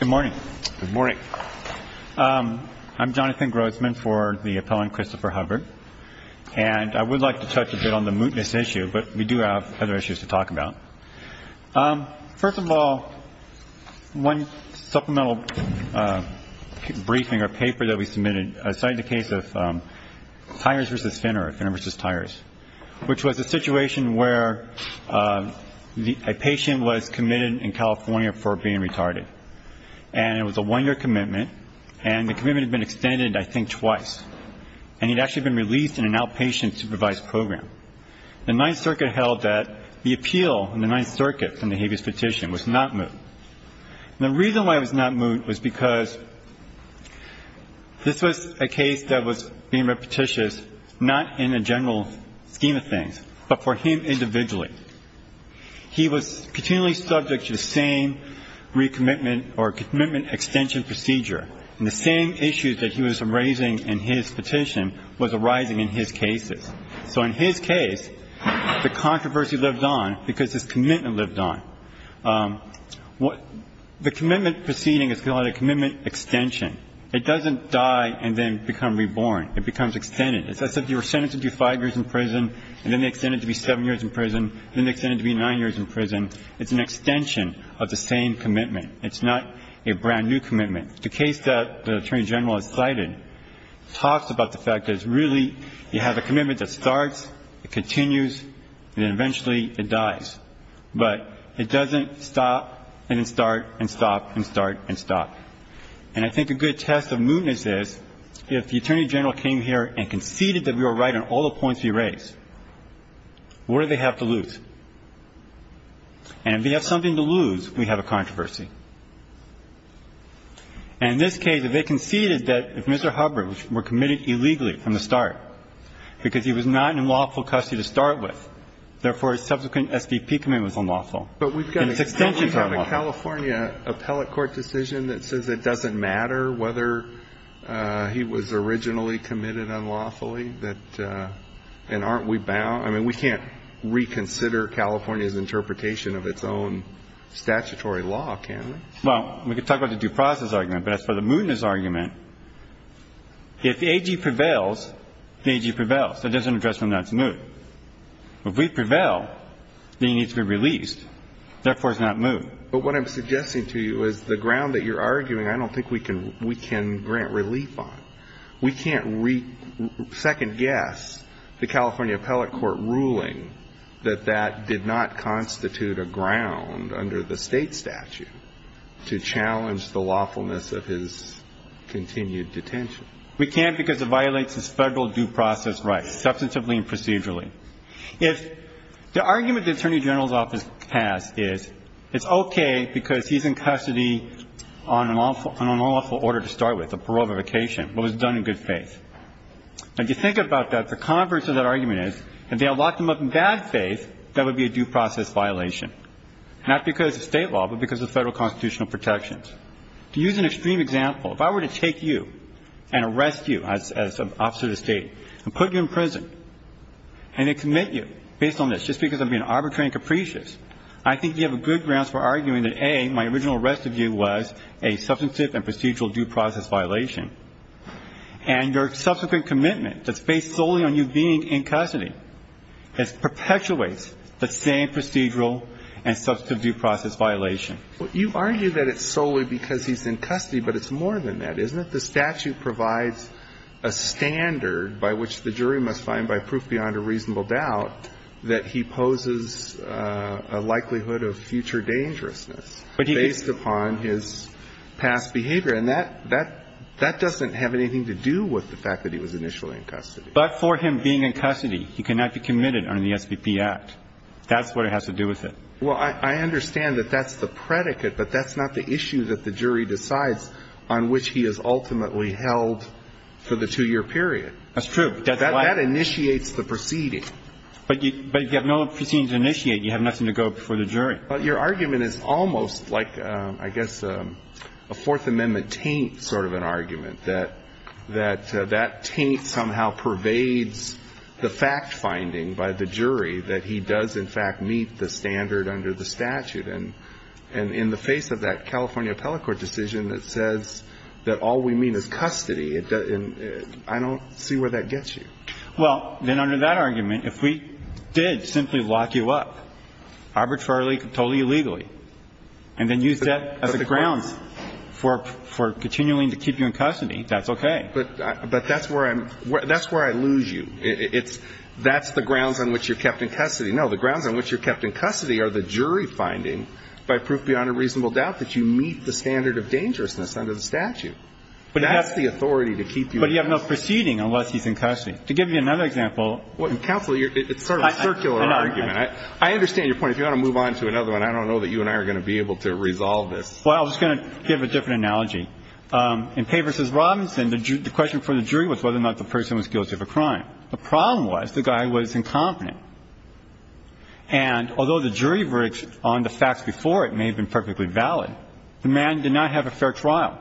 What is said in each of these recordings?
Good morning. I'm Jonathan Grossman for the appellant Christopher Hubbard. And I would like to touch a bit on the mootness issue, but we do have other issues to talk about. First of all, one supplemental briefing or paper that we submitted cited the case of Tyers v. Finner or Finner v. Tyers, which was a situation where a patient was committed in California for being retarded. And it was a one-year commitment, and the commitment had been extended, I think, twice. And he had actually been released in an outpatient supervised program. The Ninth Circuit held that the appeal in the Ninth Circuit from the habeas petition was not moot. And the reason why it was not moot was because this was a case that was being repetitious not in a general scheme of things, but for him individually. He was continually subject to the same recommitment or commitment extension procedure, and the same issues that he was raising in his petition was arising in his cases. So in his case, the controversy lived on because his commitment lived on. The commitment proceeding is called a commitment extension. It doesn't die and then become reborn. It becomes extended. It's as if you were sentenced to five years in prison, and then they extend it to be seven years in prison, and then they extend it to be nine years in prison. It's an extension of the same commitment. It's not a brand-new commitment. The case that the Attorney General has cited talks about the fact that it's really you have a commitment that starts, it continues, and then eventually it dies. But it doesn't stop and then start and stop and start and stop. And I think a good test of mootness is if the Attorney General came here and conceded that we were right on all the points we raised, what do they have to lose? And if they have something to lose, we have a controversy. And in this case, if they conceded that if Mr. Hubbard were committed illegally from the start, because he was not in lawful custody to start with, therefore, his subsequent SDP commitment was unlawful. And his extensions are unlawful. But we've got a California appellate court decision that says it doesn't matter whether he was originally committed unlawfully and aren't we bound? I mean, we can't reconsider California's interpretation of its own statutory law, can we? Well, we could talk about the due process argument, but as for the mootness argument, if AG prevails, then AG prevails. It doesn't address whether or not it's moot. If we prevail, then he needs to be released. Therefore, it's not moot. But what I'm suggesting to you is the ground that you're arguing, I don't think we can grant relief on. We can't second-guess the California appellate court ruling that that did not constitute a ground under the State statute to challenge the lawfulness of his continued detention. We can't because it violates his Federal due process rights, substantively and procedurally. If the argument the Attorney General's Office has is it's okay because he's in custody on an unlawful order to start with, a prorogatification, but it was done in good faith. If you think about that, the converse of that argument is if they unlocked him up in bad faith, that would be a due process violation, not because of State law, but because of Federal constitutional protections. To use an extreme example, if I were to take you and arrest you as an officer of the State and put you in prison and then commit you based on this just because I'm being arbitrary and capricious, I think you have good grounds for arguing that, A, my original arrest of you was a substantive and procedural due process violation, and your subsequent commitment that's based solely on you being in custody perpetuates the same procedural and substantive due process violation. You argue that it's solely because he's in custody, but it's more than that, isn't it? The statute provides a standard by which the jury must find by proof beyond a reasonable doubt that he poses a likelihood of future dangerousness based upon his past behavior. And that doesn't have anything to do with the fact that he was initially in custody. But for him being in custody, he cannot be committed under the SBP Act. That's what it has to do with it. Well, I understand that that's the predicate, but that's not the issue that the jury decides on which he is ultimately held for the two-year period. That's true. That's why. That initiates the proceeding. But you have no proceeding to initiate. You have nothing to go before the jury. Well, then under that argument, if we did simply lock you up arbitrarily, totally illegally, and then use that as a ground for continuing to keep you in custody, then that would But that's where I lose you. That's the grounds on which you're kept in custody. No, the grounds on which you're kept in custody are the jury finding by proof beyond a reasonable doubt that you meet the standard of dangerousness under the statute. That's the authority to keep you in custody. But you have no proceeding unless he's in custody. To give you another example. Well, counsel, it's sort of a circular argument. I understand your point. If you want to move on to another one, I don't know that you and I are going to be able to resolve this. Well, I was going to give a different analogy. In Pay v. Robinson, the question for the jury was whether or not the person was guilty of a crime. The problem was the guy was incompetent. And although the jury verdicts on the facts before it may have been perfectly valid, the man did not have a fair trial.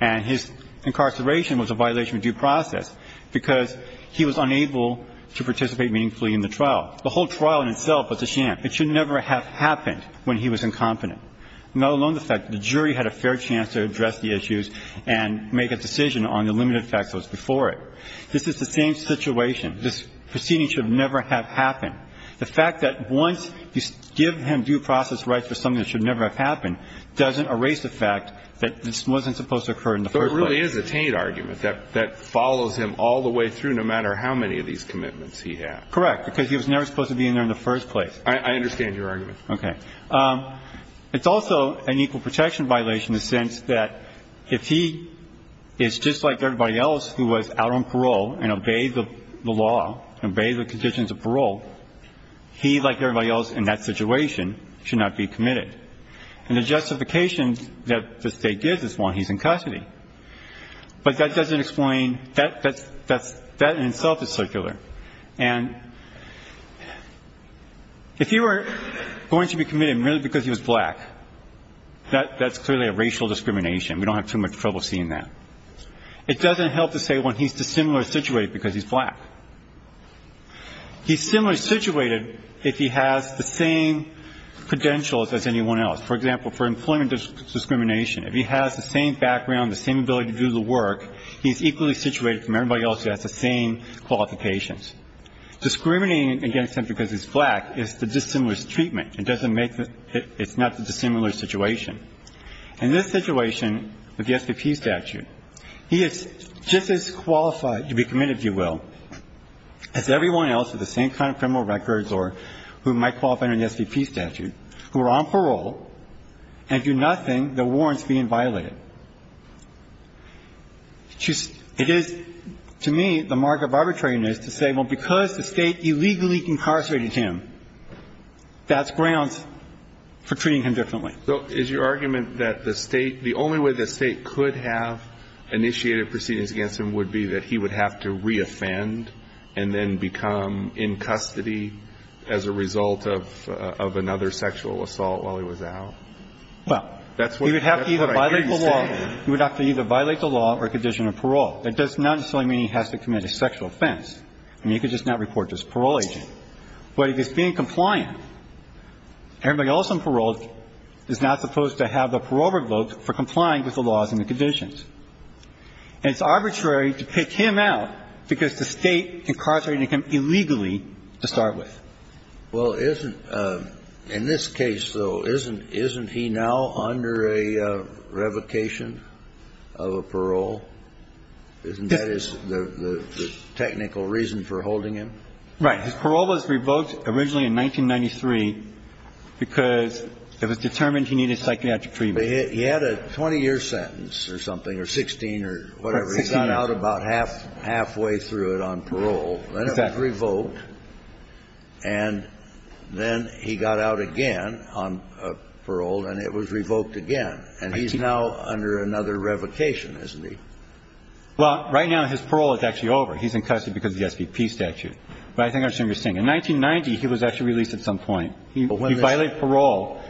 And his incarceration was a violation of due process because he was unable to participate meaningfully in the trial. The whole trial in itself was a sham. It should never have happened when he was incompetent, let alone the fact that the jury was not able to make a decision on the limited facts that were before it. This is the same situation. This proceeding should never have happened. The fact that once you give him due process rights for something that should never have happened doesn't erase the fact that this wasn't supposed to occur in the first place. So it really is a taint argument that follows him all the way through no matter how many of these commitments he had. Correct. Because he was never supposed to be in there in the first place. I understand your argument. Okay. It's also an equal protection violation in the sense that if he is just like everybody else who was out on parole and obeyed the law, obeyed the conditions of parole, he, like everybody else in that situation, should not be committed. And the justification that the State gives is, well, he's in custody. But that doesn't explain that. That in itself is circular. And if he were going to be committed merely because he was black, that's clearly a racial discrimination. We don't have too much trouble seeing that. It doesn't help to say when he's dissimilar situated because he's black. He's similarly situated if he has the same credentials as anyone else. For example, for employment discrimination, if he has the same background, the same ability to do the work, he's equally situated from everybody else who has the same qualifications. Discriminating against him because he's black is the dissimilar treatment. It doesn't make the ‑‑ it's not the dissimilar situation. In this situation with the SVP statute, he is just as qualified to be committed, if you will, as everyone else with the same kind of criminal records or who might qualify under the SVP statute who are on parole and do nothing that warrants being violated. It is, to me, the mark of arbitrariness to say, well, because the State illegally incarcerated him, that's grounds for treating him differently. So is your argument that the State ‑‑ the only way the State could have initiated proceedings against him would be that he would have to reoffend and then become in custody as a result of another sexual assault while he was out? Well, that's what I gave the State. If he's on parole, he would have to either violate the law or condition of parole. That does not necessarily mean he has to commit a sexual offense. I mean, he could just not report to his parole agent. But if he's being compliant, everybody else on parole is not supposed to have the parole revoked for complying with the laws and the conditions. And it's arbitrary to pick him out because the State incarcerated him illegally to start with. Well, isn't ‑‑ in this case, though, isn't he now under a revocation of a parole? Isn't that his ‑‑ the technical reason for holding him? Right. His parole was revoked originally in 1993 because it was determined he needed psychiatric treatment. He had a 20‑year sentence or something, or 16 or whatever. And then he got out again on parole, and it was revoked again. And he's now under another revocation, isn't he? Well, right now his parole is actually over. He's in custody because of the SBP statute. But I think I understand what you're saying. In 1990, he was actually released at some point. He violated parole.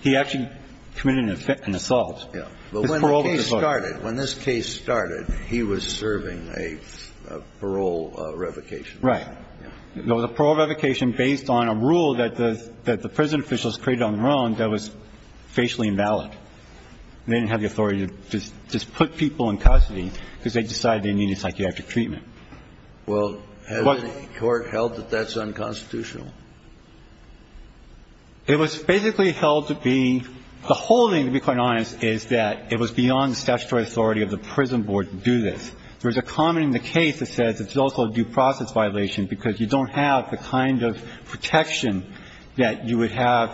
He actually committed an assault. Yeah. His parole was revoked. When this case started, he was serving a parole revocation. Right. It was a parole revocation based on a rule that the prison officials created on their own that was facially invalid. They didn't have the authority to just put people in custody because they decided they needed psychiatric treatment. Well, has any court held that that's unconstitutional? It was basically held to be ‑‑ the whole thing, to be quite honest, is that it was beyond the statutory authority of the prison board to do this. There was a comment in the case that says it's also a due process violation because you don't have the kind of protection that you would have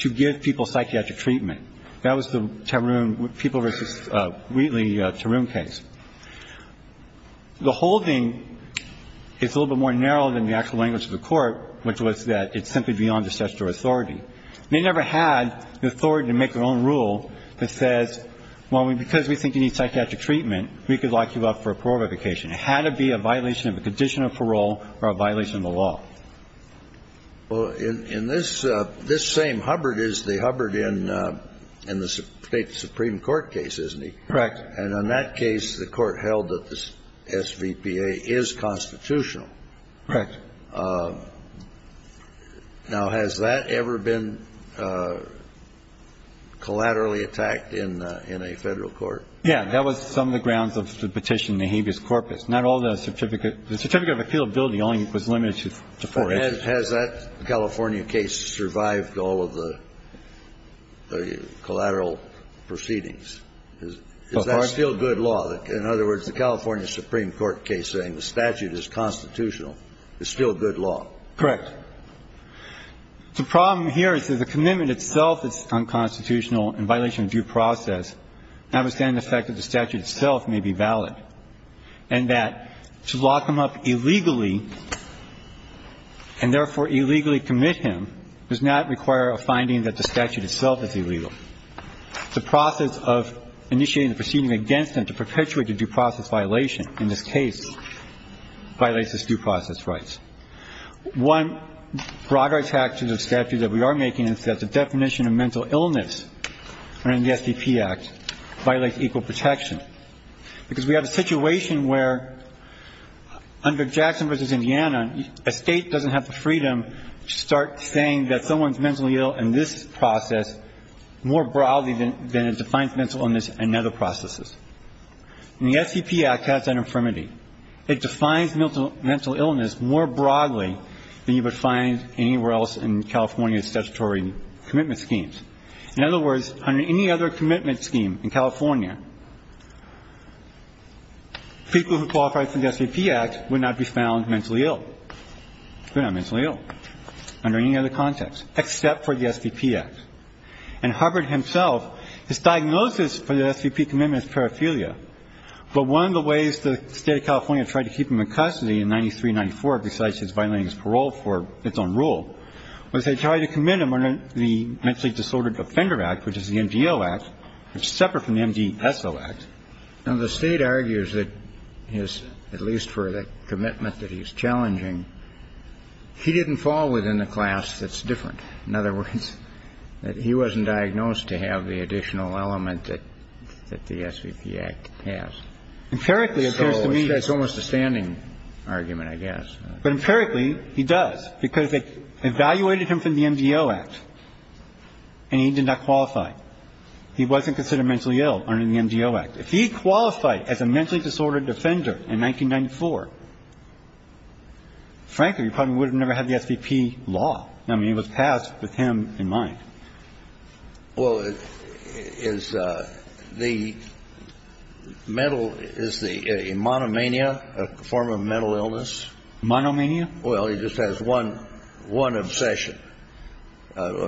to give people psychiatric treatment. That was the Tarun ‑‑ People v. Wheatley Tarun case. The whole thing is a little bit more narrow than the actual language of the court, which was that it's simply beyond the statutory authority. They never had the authority to make their own rule that says, well, because we think you need psychiatric treatment, we could lock you up for a parole revocation. It had to be a violation of a condition of parole or a violation of the law. Well, in this same Hubbard is the Hubbard in the State Supreme Court case, isn't he? Correct. And in that case, the court held that the SVPA is constitutional. Correct. Now, has that ever been collaterally attacked in a federal court? Yeah. That was some of the grounds of the petition in the habeas corpus. Not all the certificate. The certificate of appealability only was limited to four. Has that California case survived all of the collateral proceedings? Is that still good law? In other words, the California Supreme Court case saying the statute is constitutional is still good law. Correct. The problem here is that the commitment itself is unconstitutional in violation of due process, notwithstanding the fact that the statute itself may be valid, and that to lock him up illegally and therefore illegally commit him does not require a finding that the statute itself is illegal. The process of initiating the proceeding against him to perpetuate the due process violation, in this case, violates his due process rights. One broader attack to the statute that we are making is that the definition of mental illness in the SDP Act violates equal protection, because we have a situation where, under Jackson v. Indiana, a State doesn't have the freedom to start saying that someone's mentally ill in this process more broadly than it defines mental illness in other processes. And the SDP Act has that infirmity. It defines mental illness more broadly than you would find anywhere else in California's statutory commitment schemes. In other words, under any other commitment scheme in California, people who qualified for the SDP Act would not be found mentally ill. They're not mentally ill under any other context except for the SDP Act. Now, there are other ways that the SDP Act violates the SDP Act. And it violates the SDP Act by violating the State's own rules. And Hubbard himself, his diagnosis for the SDP commitment is paraphilia. But one of the ways the State of California tried to keep him in custody in 93-94, besides his violating his parole for its own rule, was they tried to commit him under the Mentally Disordered Offender Act, which is the MDO Act, which is separate from the MDSO Act. Now, the State argues that his, at least for the commitment that he's challenging, he didn't fall within a class that's different. In other words, that he wasn't diagnosed to have the additional element that the SDP Act has. It's almost a standing argument, I guess. But empirically, he does, because they evaluated him from the MDO Act, and he did not qualify. He wasn't considered mentally ill under the MDO Act. If he qualified as a mentally disordered offender in 1994, frankly, he probably would have never had the SDP law. I mean, it was passed with him in mind. Well, is the mental, is the monomania a form of mental illness? Monomania? Well, he just has one obsession.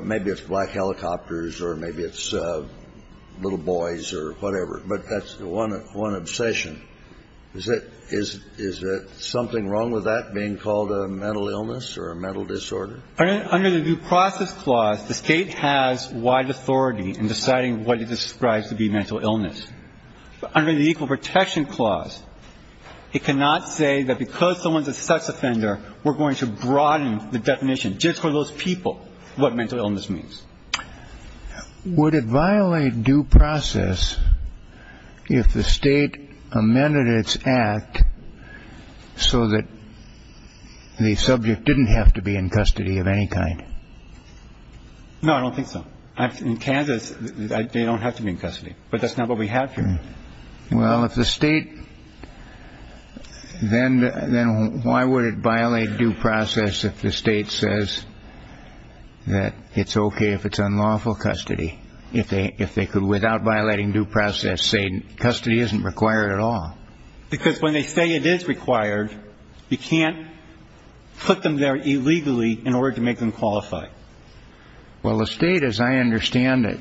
Maybe it's black helicopters or maybe it's little boys or whatever. But that's one obsession. Is it something wrong with that, being called a mental illness or a mental disorder? Under the Due Process Clause, the State has wide authority in deciding what it describes to be mental illness. Under the Equal Protection Clause, it cannot say that because someone's a sex offender, we're going to broaden the definition just for those people what mental illness means. Would it violate due process if the state amended its act so that the subject didn't have to be in custody of any kind? No, I don't think so. In Kansas, they don't have to be in custody. But that's not what we have here. Well, if the state, then why would it violate due process if the state says that it's okay if it's unlawful custody, if they could, without violating due process, say custody isn't required at all? Because when they say it is required, you can't put them there illegally in order to make them qualify. Well, the state, as I understand it,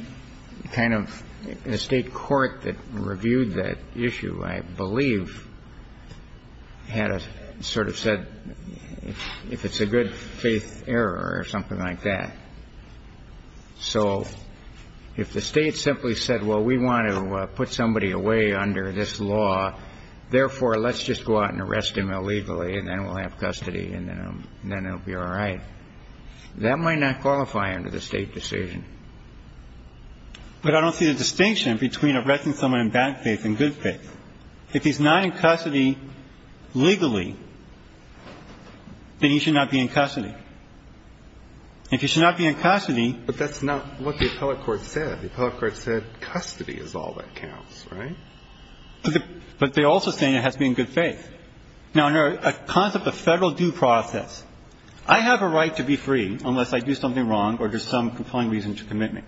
kind of the state court that reviewed that issue, I believe, had sort of said if it's a good faith error or something like that. So if the state simply said, well, we want to put somebody away under this law, therefore, let's just go out and arrest him illegally, and then we'll have custody, and then it will be all right, that might not qualify under the state decision. But I don't see the distinction between arresting someone in bad faith and good faith. If he's not in custody legally, then he should not be in custody. If he should not be in custody... But that's not what the appellate court said. The appellate court said custody is all that counts, right? But they're also saying it has to be in good faith. Now, under a concept of federal due process, I have a right to be free unless I do something wrong or there's some compelling reason to commit me.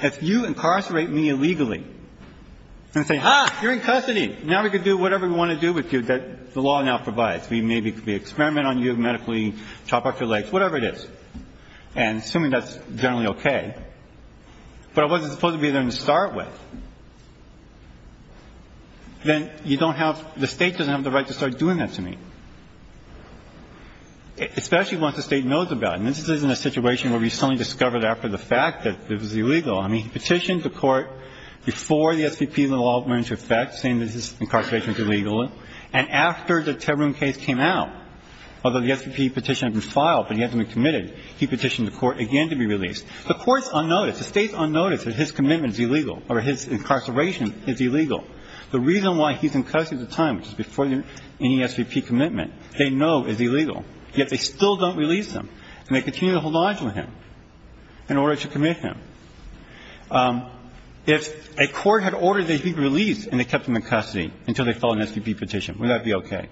If you incarcerate me illegally and say, ah, you're in custody, now we can do whatever we want to do with you that the law now provides. We may be able to experiment on you medically, chop off your legs, whatever it is, and assuming that's generally okay, but I wasn't supposed to be there to start with, then you don't have the state doesn't have the right to start doing that to me, especially once the state knows about it. And this isn't a situation where we suddenly discover it after the fact that it was illegal. I mean, he petitioned the court before the SVP and the law went into effect, saying that his incarceration was illegal, and after the Tebrum case came out, although the SVP petition had been filed, but he had to be committed, he petitioned the court again to be released. The court's unnoticed. The state's unnoticed that his commitment is illegal or his incarceration is illegal. The reason why he's in custody at the time, which is before any SVP commitment, they know is illegal, yet they still don't release him, and they continue to hold onto him in order to commit him. If a court had ordered that he be released and they kept him in custody until they filed an SVP petition, would that be okay?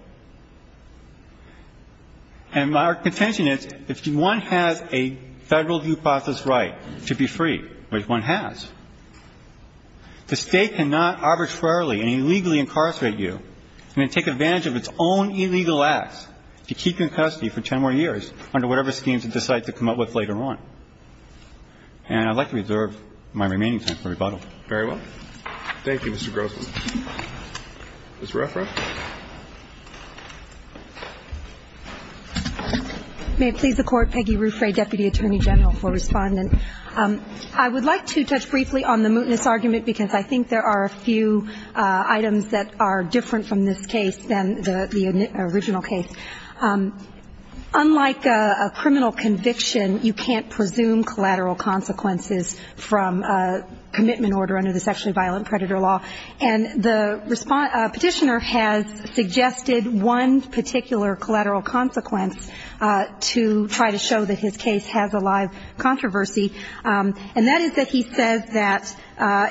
And our contention is if one has a Federal due process right to be free, which one has, the State cannot arbitrarily and illegally incarcerate you and then take advantage of its own illegal acts to keep you in custody for 10 more years under whatever schemes it decides to come up with later on. And I'd like to reserve my remaining time for rebuttal. Roberts. Thank you, Mr. Grossman. Ms. Ruffin. May it please the Court. Peggy Ruffray, Deputy Attorney General for Respondent. I would like to touch briefly on the mootness argument because I think there are a few items that are different from this case than the original case. Unlike a criminal conviction, you can't presume collateral consequences from a commitment order under the sexually violent predator law. And the petitioner has suggested one particular collateral consequence to try to show that his case has a live controversy. And that is that he says that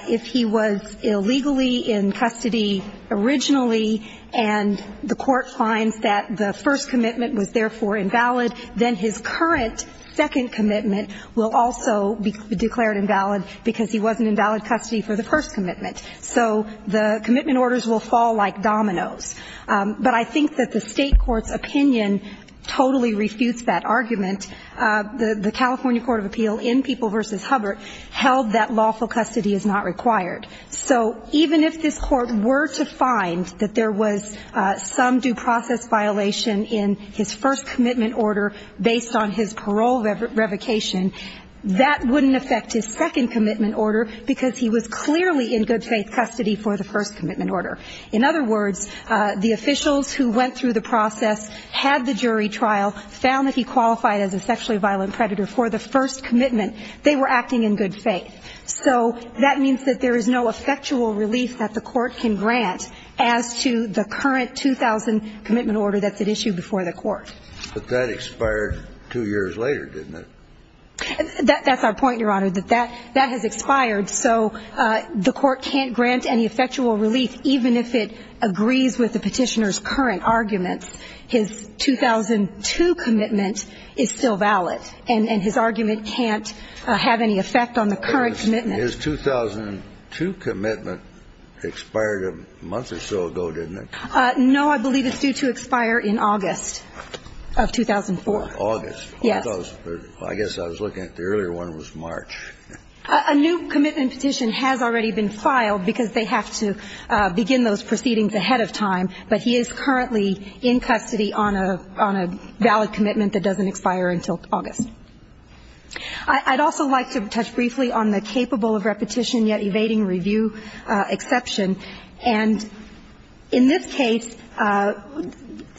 if he was illegally in custody originally and the court finds that the first commitment was therefore invalid, then his current second commitment will also be declared invalid because he wasn't in valid custody for the first commitment. So the commitment orders will fall like dominoes. But I think that the state court's opinion totally refutes that argument. The California Court of Appeal in People v. Hubbard held that lawful custody is not required. So even if this court were to find that there was some due process violation in his first commitment order based on his parole revocation, that wouldn't affect his second commitment order because he was clearly in good faith custody for the first commitment order. In other words, the officials who went through the process, had the jury trial, found that he qualified as a sexually violent predator for the first commitment, they were acting in good faith. So that means that there is no effectual relief that the court can grant as to the current 2000 commitment order that's at issue before the court. But that expired two years later, didn't it? That's our point, Your Honor, that that has expired, so the court can't grant any effectual relief even if it agrees with the petitioner's current argument. His 2002 commitment is still valid, and his argument can't have any effect on the current commitment. His 2002 commitment expired a month or so ago, didn't it? No, I believe it's due to expire in August of 2004. August. Yes. I guess I was looking at the earlier one, it was March. A new commitment petition has already been filed because they have to begin those proceedings ahead of time, but he is currently in custody on a valid commitment that doesn't expire until August. I'd also like to touch briefly on the capable of repetition yet evading review exception. And in this case,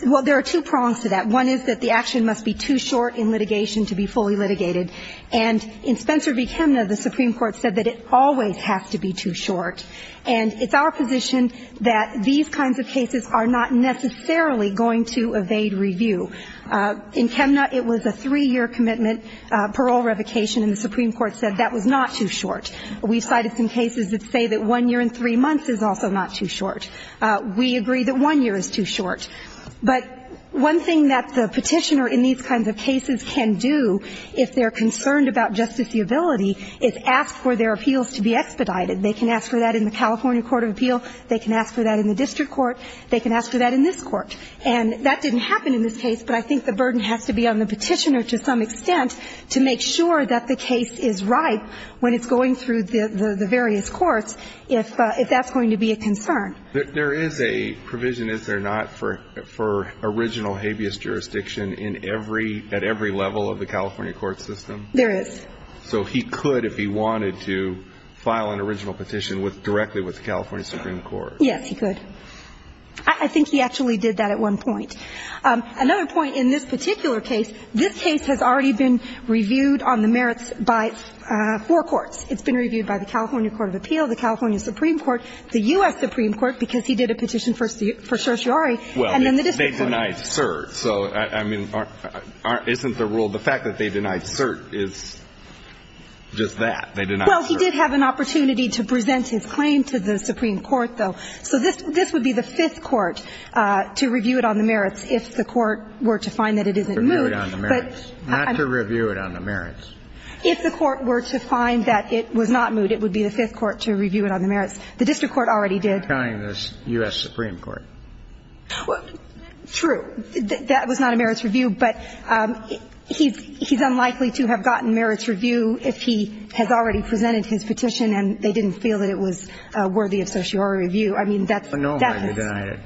well, there are two prongs to that. One is that the action must be too short in litigation to be fully litigated. And in Spencer v. Chemna, the Supreme Court said that it always has to be too short. And it's our position that these kinds of cases are not necessarily going to evade review. In Chemna, it was a three-year commitment parole revocation, and the Supreme Court said that was not too short. We cited some cases that say that one year and three months is also not too short. We agree that one year is too short. But one thing that the petitioner in these kinds of cases can do if they're concerned about justiceability is ask for their appeals to be expedited. They can ask for that in the California court of appeal. They can ask for that in the district court. They can ask for that in this court. And that didn't happen in this case, but I think the burden has to be on the petitioner to some extent to make sure that the case is ripe when it's going through the various courts, if that's going to be a concern. There is a provision, is there not, for original habeas jurisdiction at every level of the California court system? There is. So he could, if he wanted to, file an original petition directly with the California Supreme Court. Yes, he could. I think he actually did that at one point. Another point in this particular case, this case has already been reviewed on the merits by four courts. It's been reviewed by the California court of appeal, the California Supreme Court, the U.S. Supreme Court, because he did a petition for certiorari, and then the district court. Well, they denied cert. So, I mean, isn't the rule the fact that they denied cert is just that? They denied cert. Well, he did have an opportunity to present his claim to the Supreme Court, though. So this would be the Fifth Court to review it on the merits if the court were to find that it isn't moot. Review it on the merits. Not to review it on the merits. If the court were to find that it was not moot, it would be the Fifth Court to review it on the merits. The district court already did. I'm not counting the U.S. Supreme Court. True. That was not a merits review, but he's unlikely to have gotten merits review if he has already presented his petition and they didn't feel that it was worthy of certiorari review. I mean, that's the case. But no one denied it.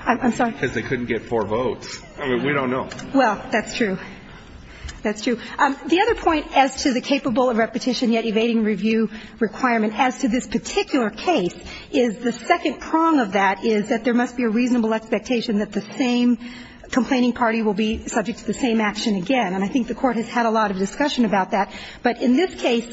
I'm sorry? Because they couldn't get four votes. We don't know. Well, that's true. That's true. The other point as to the capable of repetition yet evading review requirement as to this particular case is the second prong of that is that there must be a reasonable expectation that the same complaining party will be subject to the same action again. And I think the Court has had a lot of discussion about that. But in this case,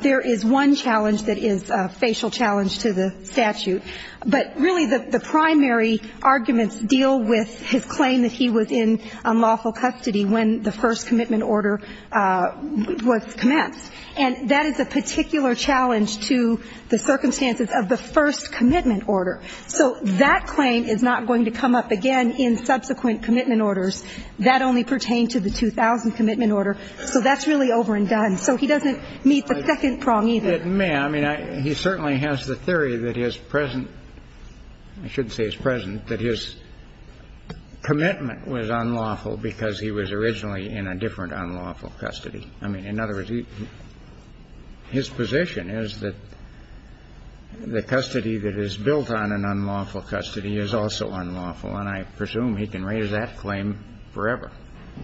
there is one challenge that is a facial challenge to the statute. But really, the primary arguments deal with his claim that he was in unlawful custody when the first commitment order was commenced. And that is a particular challenge to the circumstances of the first commitment order. So that claim is not going to come up again in subsequent commitment orders that only pertain to the 2000 commitment order. So that's really over and done. So he doesn't meet the second prong either. It may. I mean, he certainly has the theory that his present – I shouldn't say his present – that his commitment was unlawful because he was originally in a different unlawful custody. I mean, in other words, his position is that the custody that is built on an unlawful custody is also unlawful. And I presume he can raise that claim forever.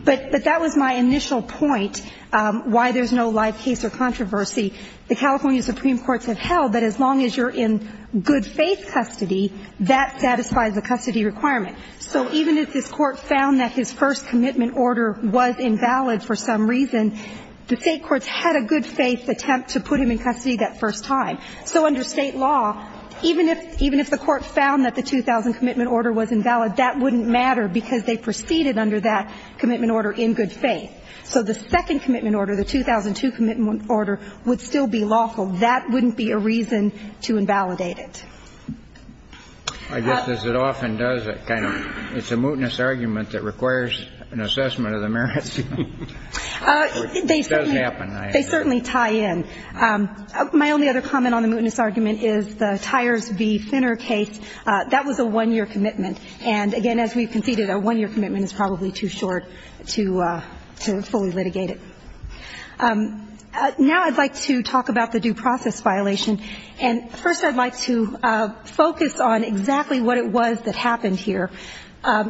But that was my initial point, why there's no live case or controversy. The California supreme courts have held that as long as you're in good faith custody, that satisfies the custody requirement. So even if this Court found that his first commitment order was invalid for some reason, the State courts had a good faith attempt to put him in custody that first time. So under State law, even if the Court found that the 2000 commitment order was invalid, that wouldn't matter because they proceeded under that commitment order in good faith. So the second commitment order, the 2002 commitment order, would still be lawful. That wouldn't be a reason to invalidate it. I guess as it often does, it kind of – it's a mootness argument that requires an assessment of the merits. It doesn't happen. They certainly tie in. My only other comment on the mootness argument is the Tyers v. Finner case. That was a one-year commitment. And, again, as we've conceded, a one-year commitment is probably too short to fully litigate it. Now I'd like to talk about the due process violation. And first I'd like to focus on exactly what it was that happened here.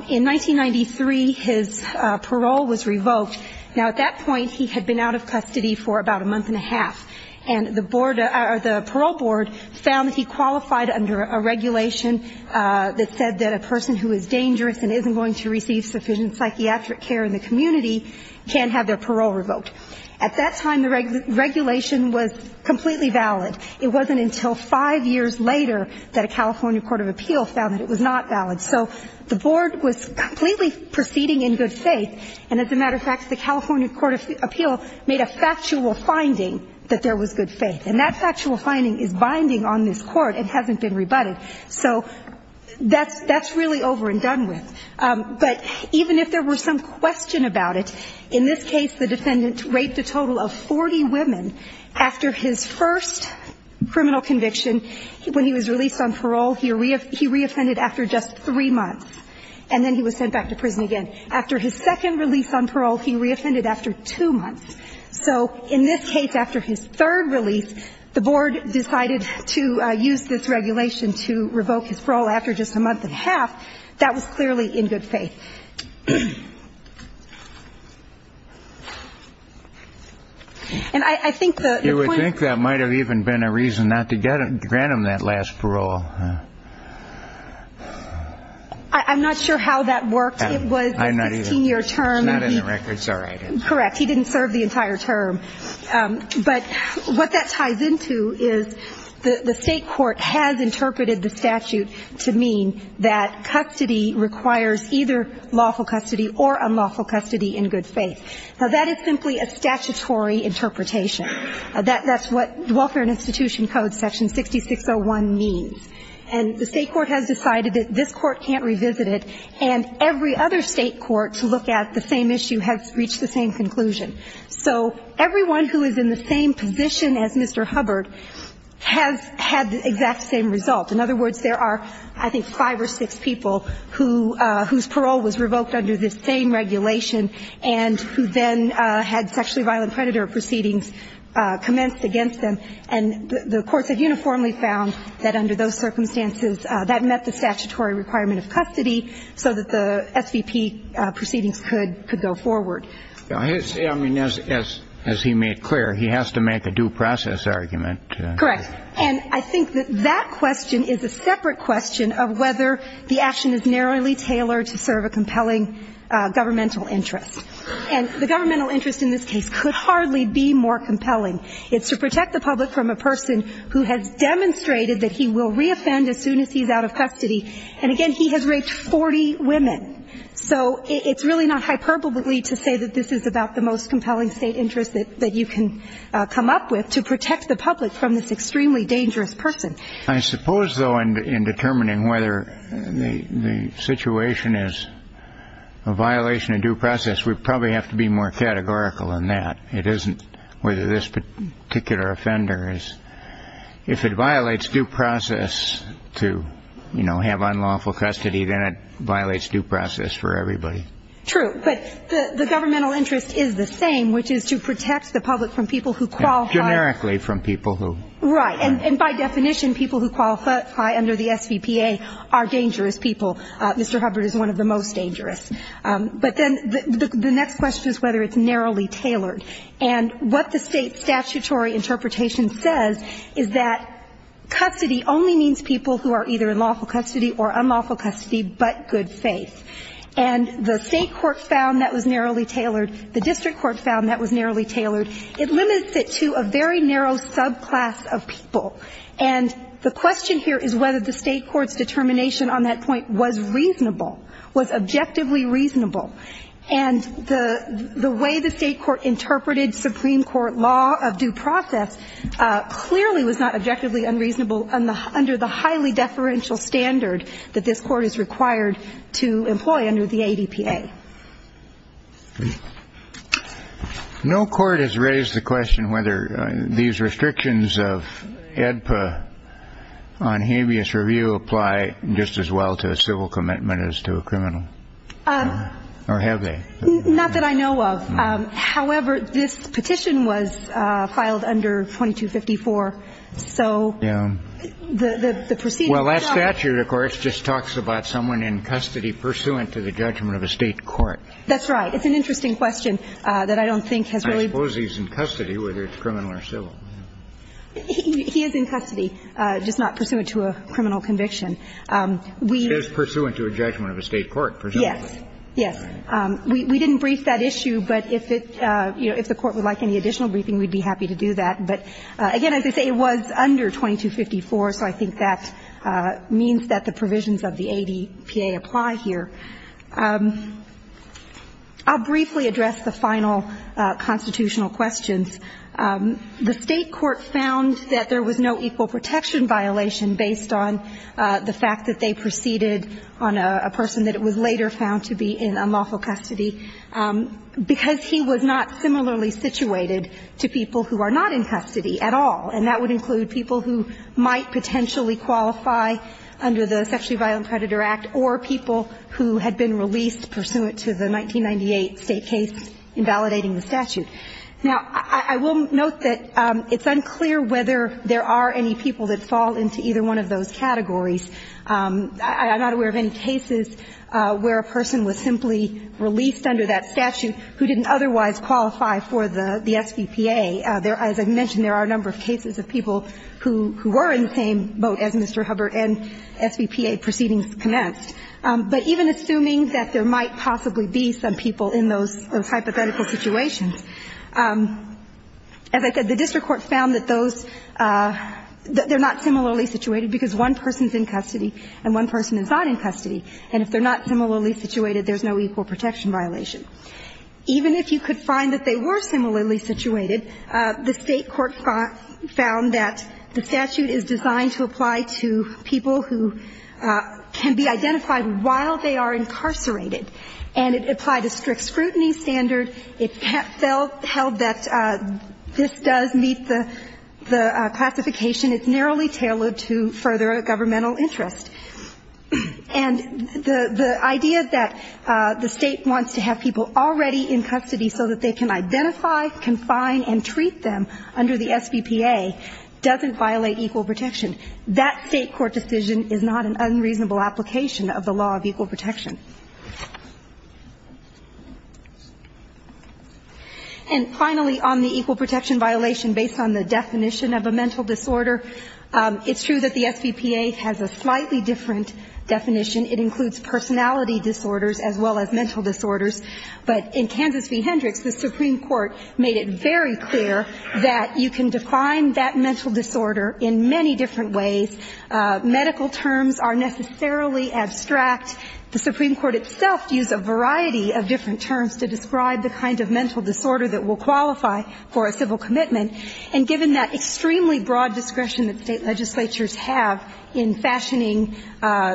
In 1993, his parole was revoked. Now, at that point, he had been out of custody for about a month and a half. And the board – or the parole board found that he qualified under a regulation that said that a person who is dangerous and isn't going to receive sufficient psychiatric care in the community can have their parole revoked. At that time, the regulation was completely valid. It wasn't until five years later that a California court of appeal found that it was not valid. So the board was completely proceeding in good faith. And, as a matter of fact, the California court of appeal made a factual finding that there was good faith. And that factual finding is binding on this Court. It hasn't been rebutted. So that's really over and done with. But even if there were some question about it, in this case the defendant raped a criminal conviction. When he was released on parole, he re-offended after just three months. And then he was sent back to prison again. After his second release on parole, he re-offended after two months. So, in this case, after his third release, the board decided to use this regulation to revoke his parole after just a month and a half. That was clearly in good faith. to grant him that last parole. I'm not sure how that worked. It was a 16-year term. I'm not either. It's not in the records. All right. Correct. He didn't serve the entire term. But what that ties into is the state court has interpreted the statute to mean that custody requires either lawful custody or unlawful custody in good faith. Now, that is simply a statutory interpretation. That's what Welfare and Institution Code Section 6601 means. And the state court has decided that this court can't revisit it, and every other state court to look at the same issue has reached the same conclusion. So everyone who is in the same position as Mr. Hubbard has had the exact same result. In other words, there are, I think, five or six people whose parole was revoked under this same regulation and who then had sexually violent predator proceedings commenced against them. And the courts have uniformly found that under those circumstances that met the statutory requirement of custody so that the SVP proceedings could go forward. I mean, as he made clear, he has to make a due process argument. Correct. And I think that that question is a separate question of whether the action is narrowly tailored to serve a compelling governmental interest. And the governmental interest in this case could hardly be more compelling. It's to protect the public from a person who has demonstrated that he will reoffend as soon as he's out of custody. And, again, he has raped 40 women. So it's really not hyperbole to say that this is about the most compelling state interest that you can come up with to protect the public from this extremely dangerous person. I suppose, though, in determining whether the situation is a violation of due process, we probably have to be more categorical in that. It isn't whether this particular offender is. If it violates due process to, you know, have unlawful custody, then it violates due process for everybody. True. But the governmental interest is the same, which is to protect the public from people who qualify. Generically from people who. Right. And by definition, people who qualify under the SVPA are dangerous people. Mr. Hubbard is one of the most dangerous. But then the next question is whether it's narrowly tailored. And what the State statutory interpretation says is that custody only means people who are either in lawful custody or unlawful custody but good faith. And the State court found that was narrowly tailored. The district court found that was narrowly tailored. It limits it to a very narrow subclass of people. And the question here is whether the State court's determination on that point was reasonable, was objectively reasonable. And the way the State court interpreted Supreme Court law of due process clearly was not objectively unreasonable under the highly deferential standard that this court is required to employ under the ADPA. No court has raised the question whether these restrictions of ADPA on habeas review apply just as well to a civil commitment as to a criminal. Or have they? Not that I know of. However, this petition was filed under 2254. So the proceeding. Well, that statute, of course, just talks about someone in custody pursuant to the That's right. It's an interesting question that I don't think has really. I suppose he's in custody, whether it's criminal or civil. He is in custody, just not pursuant to a criminal conviction. He is pursuant to a judgment of a State court, presumably. Yes. Yes. We didn't brief that issue, but if it, you know, if the Court would like any additional briefing, we'd be happy to do that. But, again, as I say, it was under 2254, so I think that means that the provisions of the ADPA apply here. I'll briefly address the final constitutional questions. The State court found that there was no equal protection violation based on the fact that they proceeded on a person that was later found to be in unlawful custody, because he was not similarly situated to people who are not in custody at all. And that would include people who might potentially qualify under the Sexually Unlawful Custody Procedure. And that would include people who had been released pursuant to the 1998 State case invalidating the statute. Now, I will note that it's unclear whether there are any people that fall into either one of those categories. I'm not aware of any cases where a person was simply released under that statute who didn't otherwise qualify for the SVPA. There, as I mentioned, there are a number of cases of people who were in the same boat as Mr. Hubbard and SVPA proceedings commenced. But even assuming that there might possibly be some people in those hypothetical situations, as I said, the district court found that those, that they're not similarly situated because one person's in custody and one person is not in custody. And if they're not similarly situated, there's no equal protection violation. Even if you could find that they were similarly situated, the state court found that the statute is designed to apply to people who can be identified while they are incarcerated. And it applied a strict scrutiny standard. It held that this does meet the classification. It's narrowly tailored to further a governmental interest. And the idea that the state wants to have people already in custody so that they can identify, confine, and treat them under the SVPA doesn't violate equal protection. That state court decision is not an unreasonable application of the law of equal protection. And finally, on the equal protection violation, based on the definition of a mental disorder, it's true that the SVPA has a slightly different definition. It includes personality disorders as well as mental disorders. But in Kansas v. Hendricks, the Supreme Court made it very clear that you can define that mental disorder in many different ways. Medical terms are necessarily abstract. The Supreme Court itself used a variety of different terms to describe the kind of mental disorder that will qualify for a civil commitment. And given that extremely broad discretion that state legislatures have in fashioning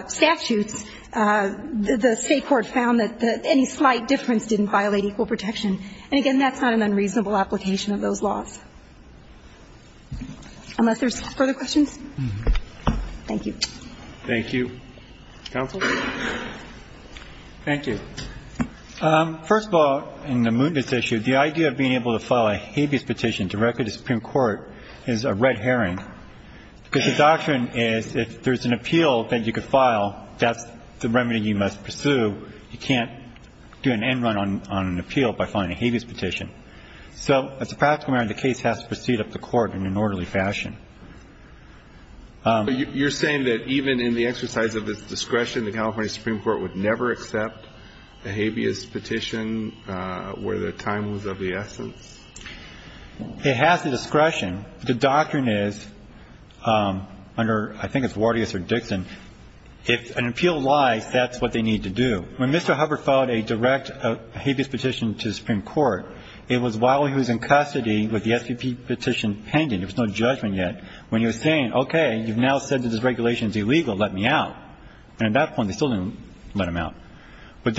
statutes, the state court found that any slight difference didn't violate equal protection. And, again, that's not an unreasonable application of those laws. Unless there's further questions? Thank you. Thank you. Counsel? Thank you. First of all, in the mootness issue, the idea of being able to file a habeas petition directly to the Supreme Court is a red herring, because the doctrine is if there's an appeal that you could file, that's the remedy you must pursue. You can't do an end run on an appeal by filing a habeas petition. So as a practical matter, the case has to proceed up to court in an orderly fashion. But you're saying that even in the exercise of its discretion, the California Supreme Court would never accept a habeas petition where the time was of the essence? It has the discretion. The doctrine is, under, I think it's Wardius or Dixon, if an appeal lies, that's what they need to do. When Mr. Hubbard filed a direct habeas petition to the Supreme Court, it was while he was in custody with the SPP petition pending, there was no judgment yet, when he was saying, okay, you've now said that this regulation is illegal, let me out. And at that point, they still didn't let him out. But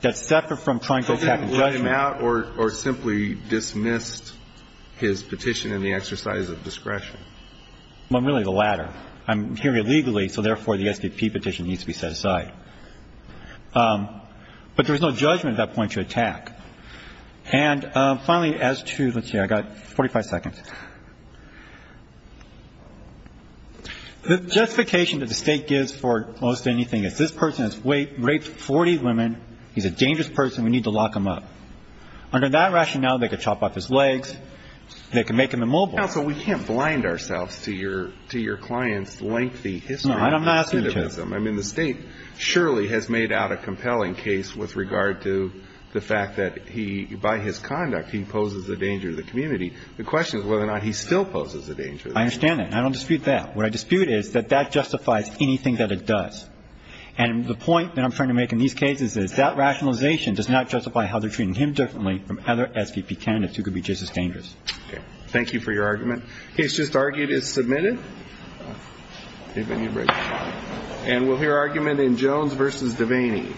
that's separate from trying to go back to judgment. They didn't let him out or simply dismissed his petition in the exercise of discretion. Well, really, the latter. I'm hearing it legally, so therefore, the SPP petition needs to be set aside. But there was no judgment at that point to attack. And finally, as to, let's see, I've got 45 seconds. The justification that the State gives for most anything is this person has raped 40 women, he's a dangerous person, we need to lock him up. Under that rationale, they could chop off his legs, they could make him immobile. Counsel, we can't blind ourselves to your client's lengthy history. No, I'm not asking you to. I mean, the State surely has made out a compelling case with regard to the fact that he, by his conduct, he poses a danger to the community. The question is whether or not he still poses a danger. I understand that. I don't dispute that. What I dispute is that that justifies anything that it does. And the point that I'm trying to make in these cases is that rationalization does not justify how they're treating him differently from other SPP candidates who could be just as dangerous. Okay. Thank you for your argument. Case just argued is submitted. And we'll hear argument in Jones v. Devaney. Thank you. I think it's going to be a lot of work. Yeah. Yeah. But we'll do that.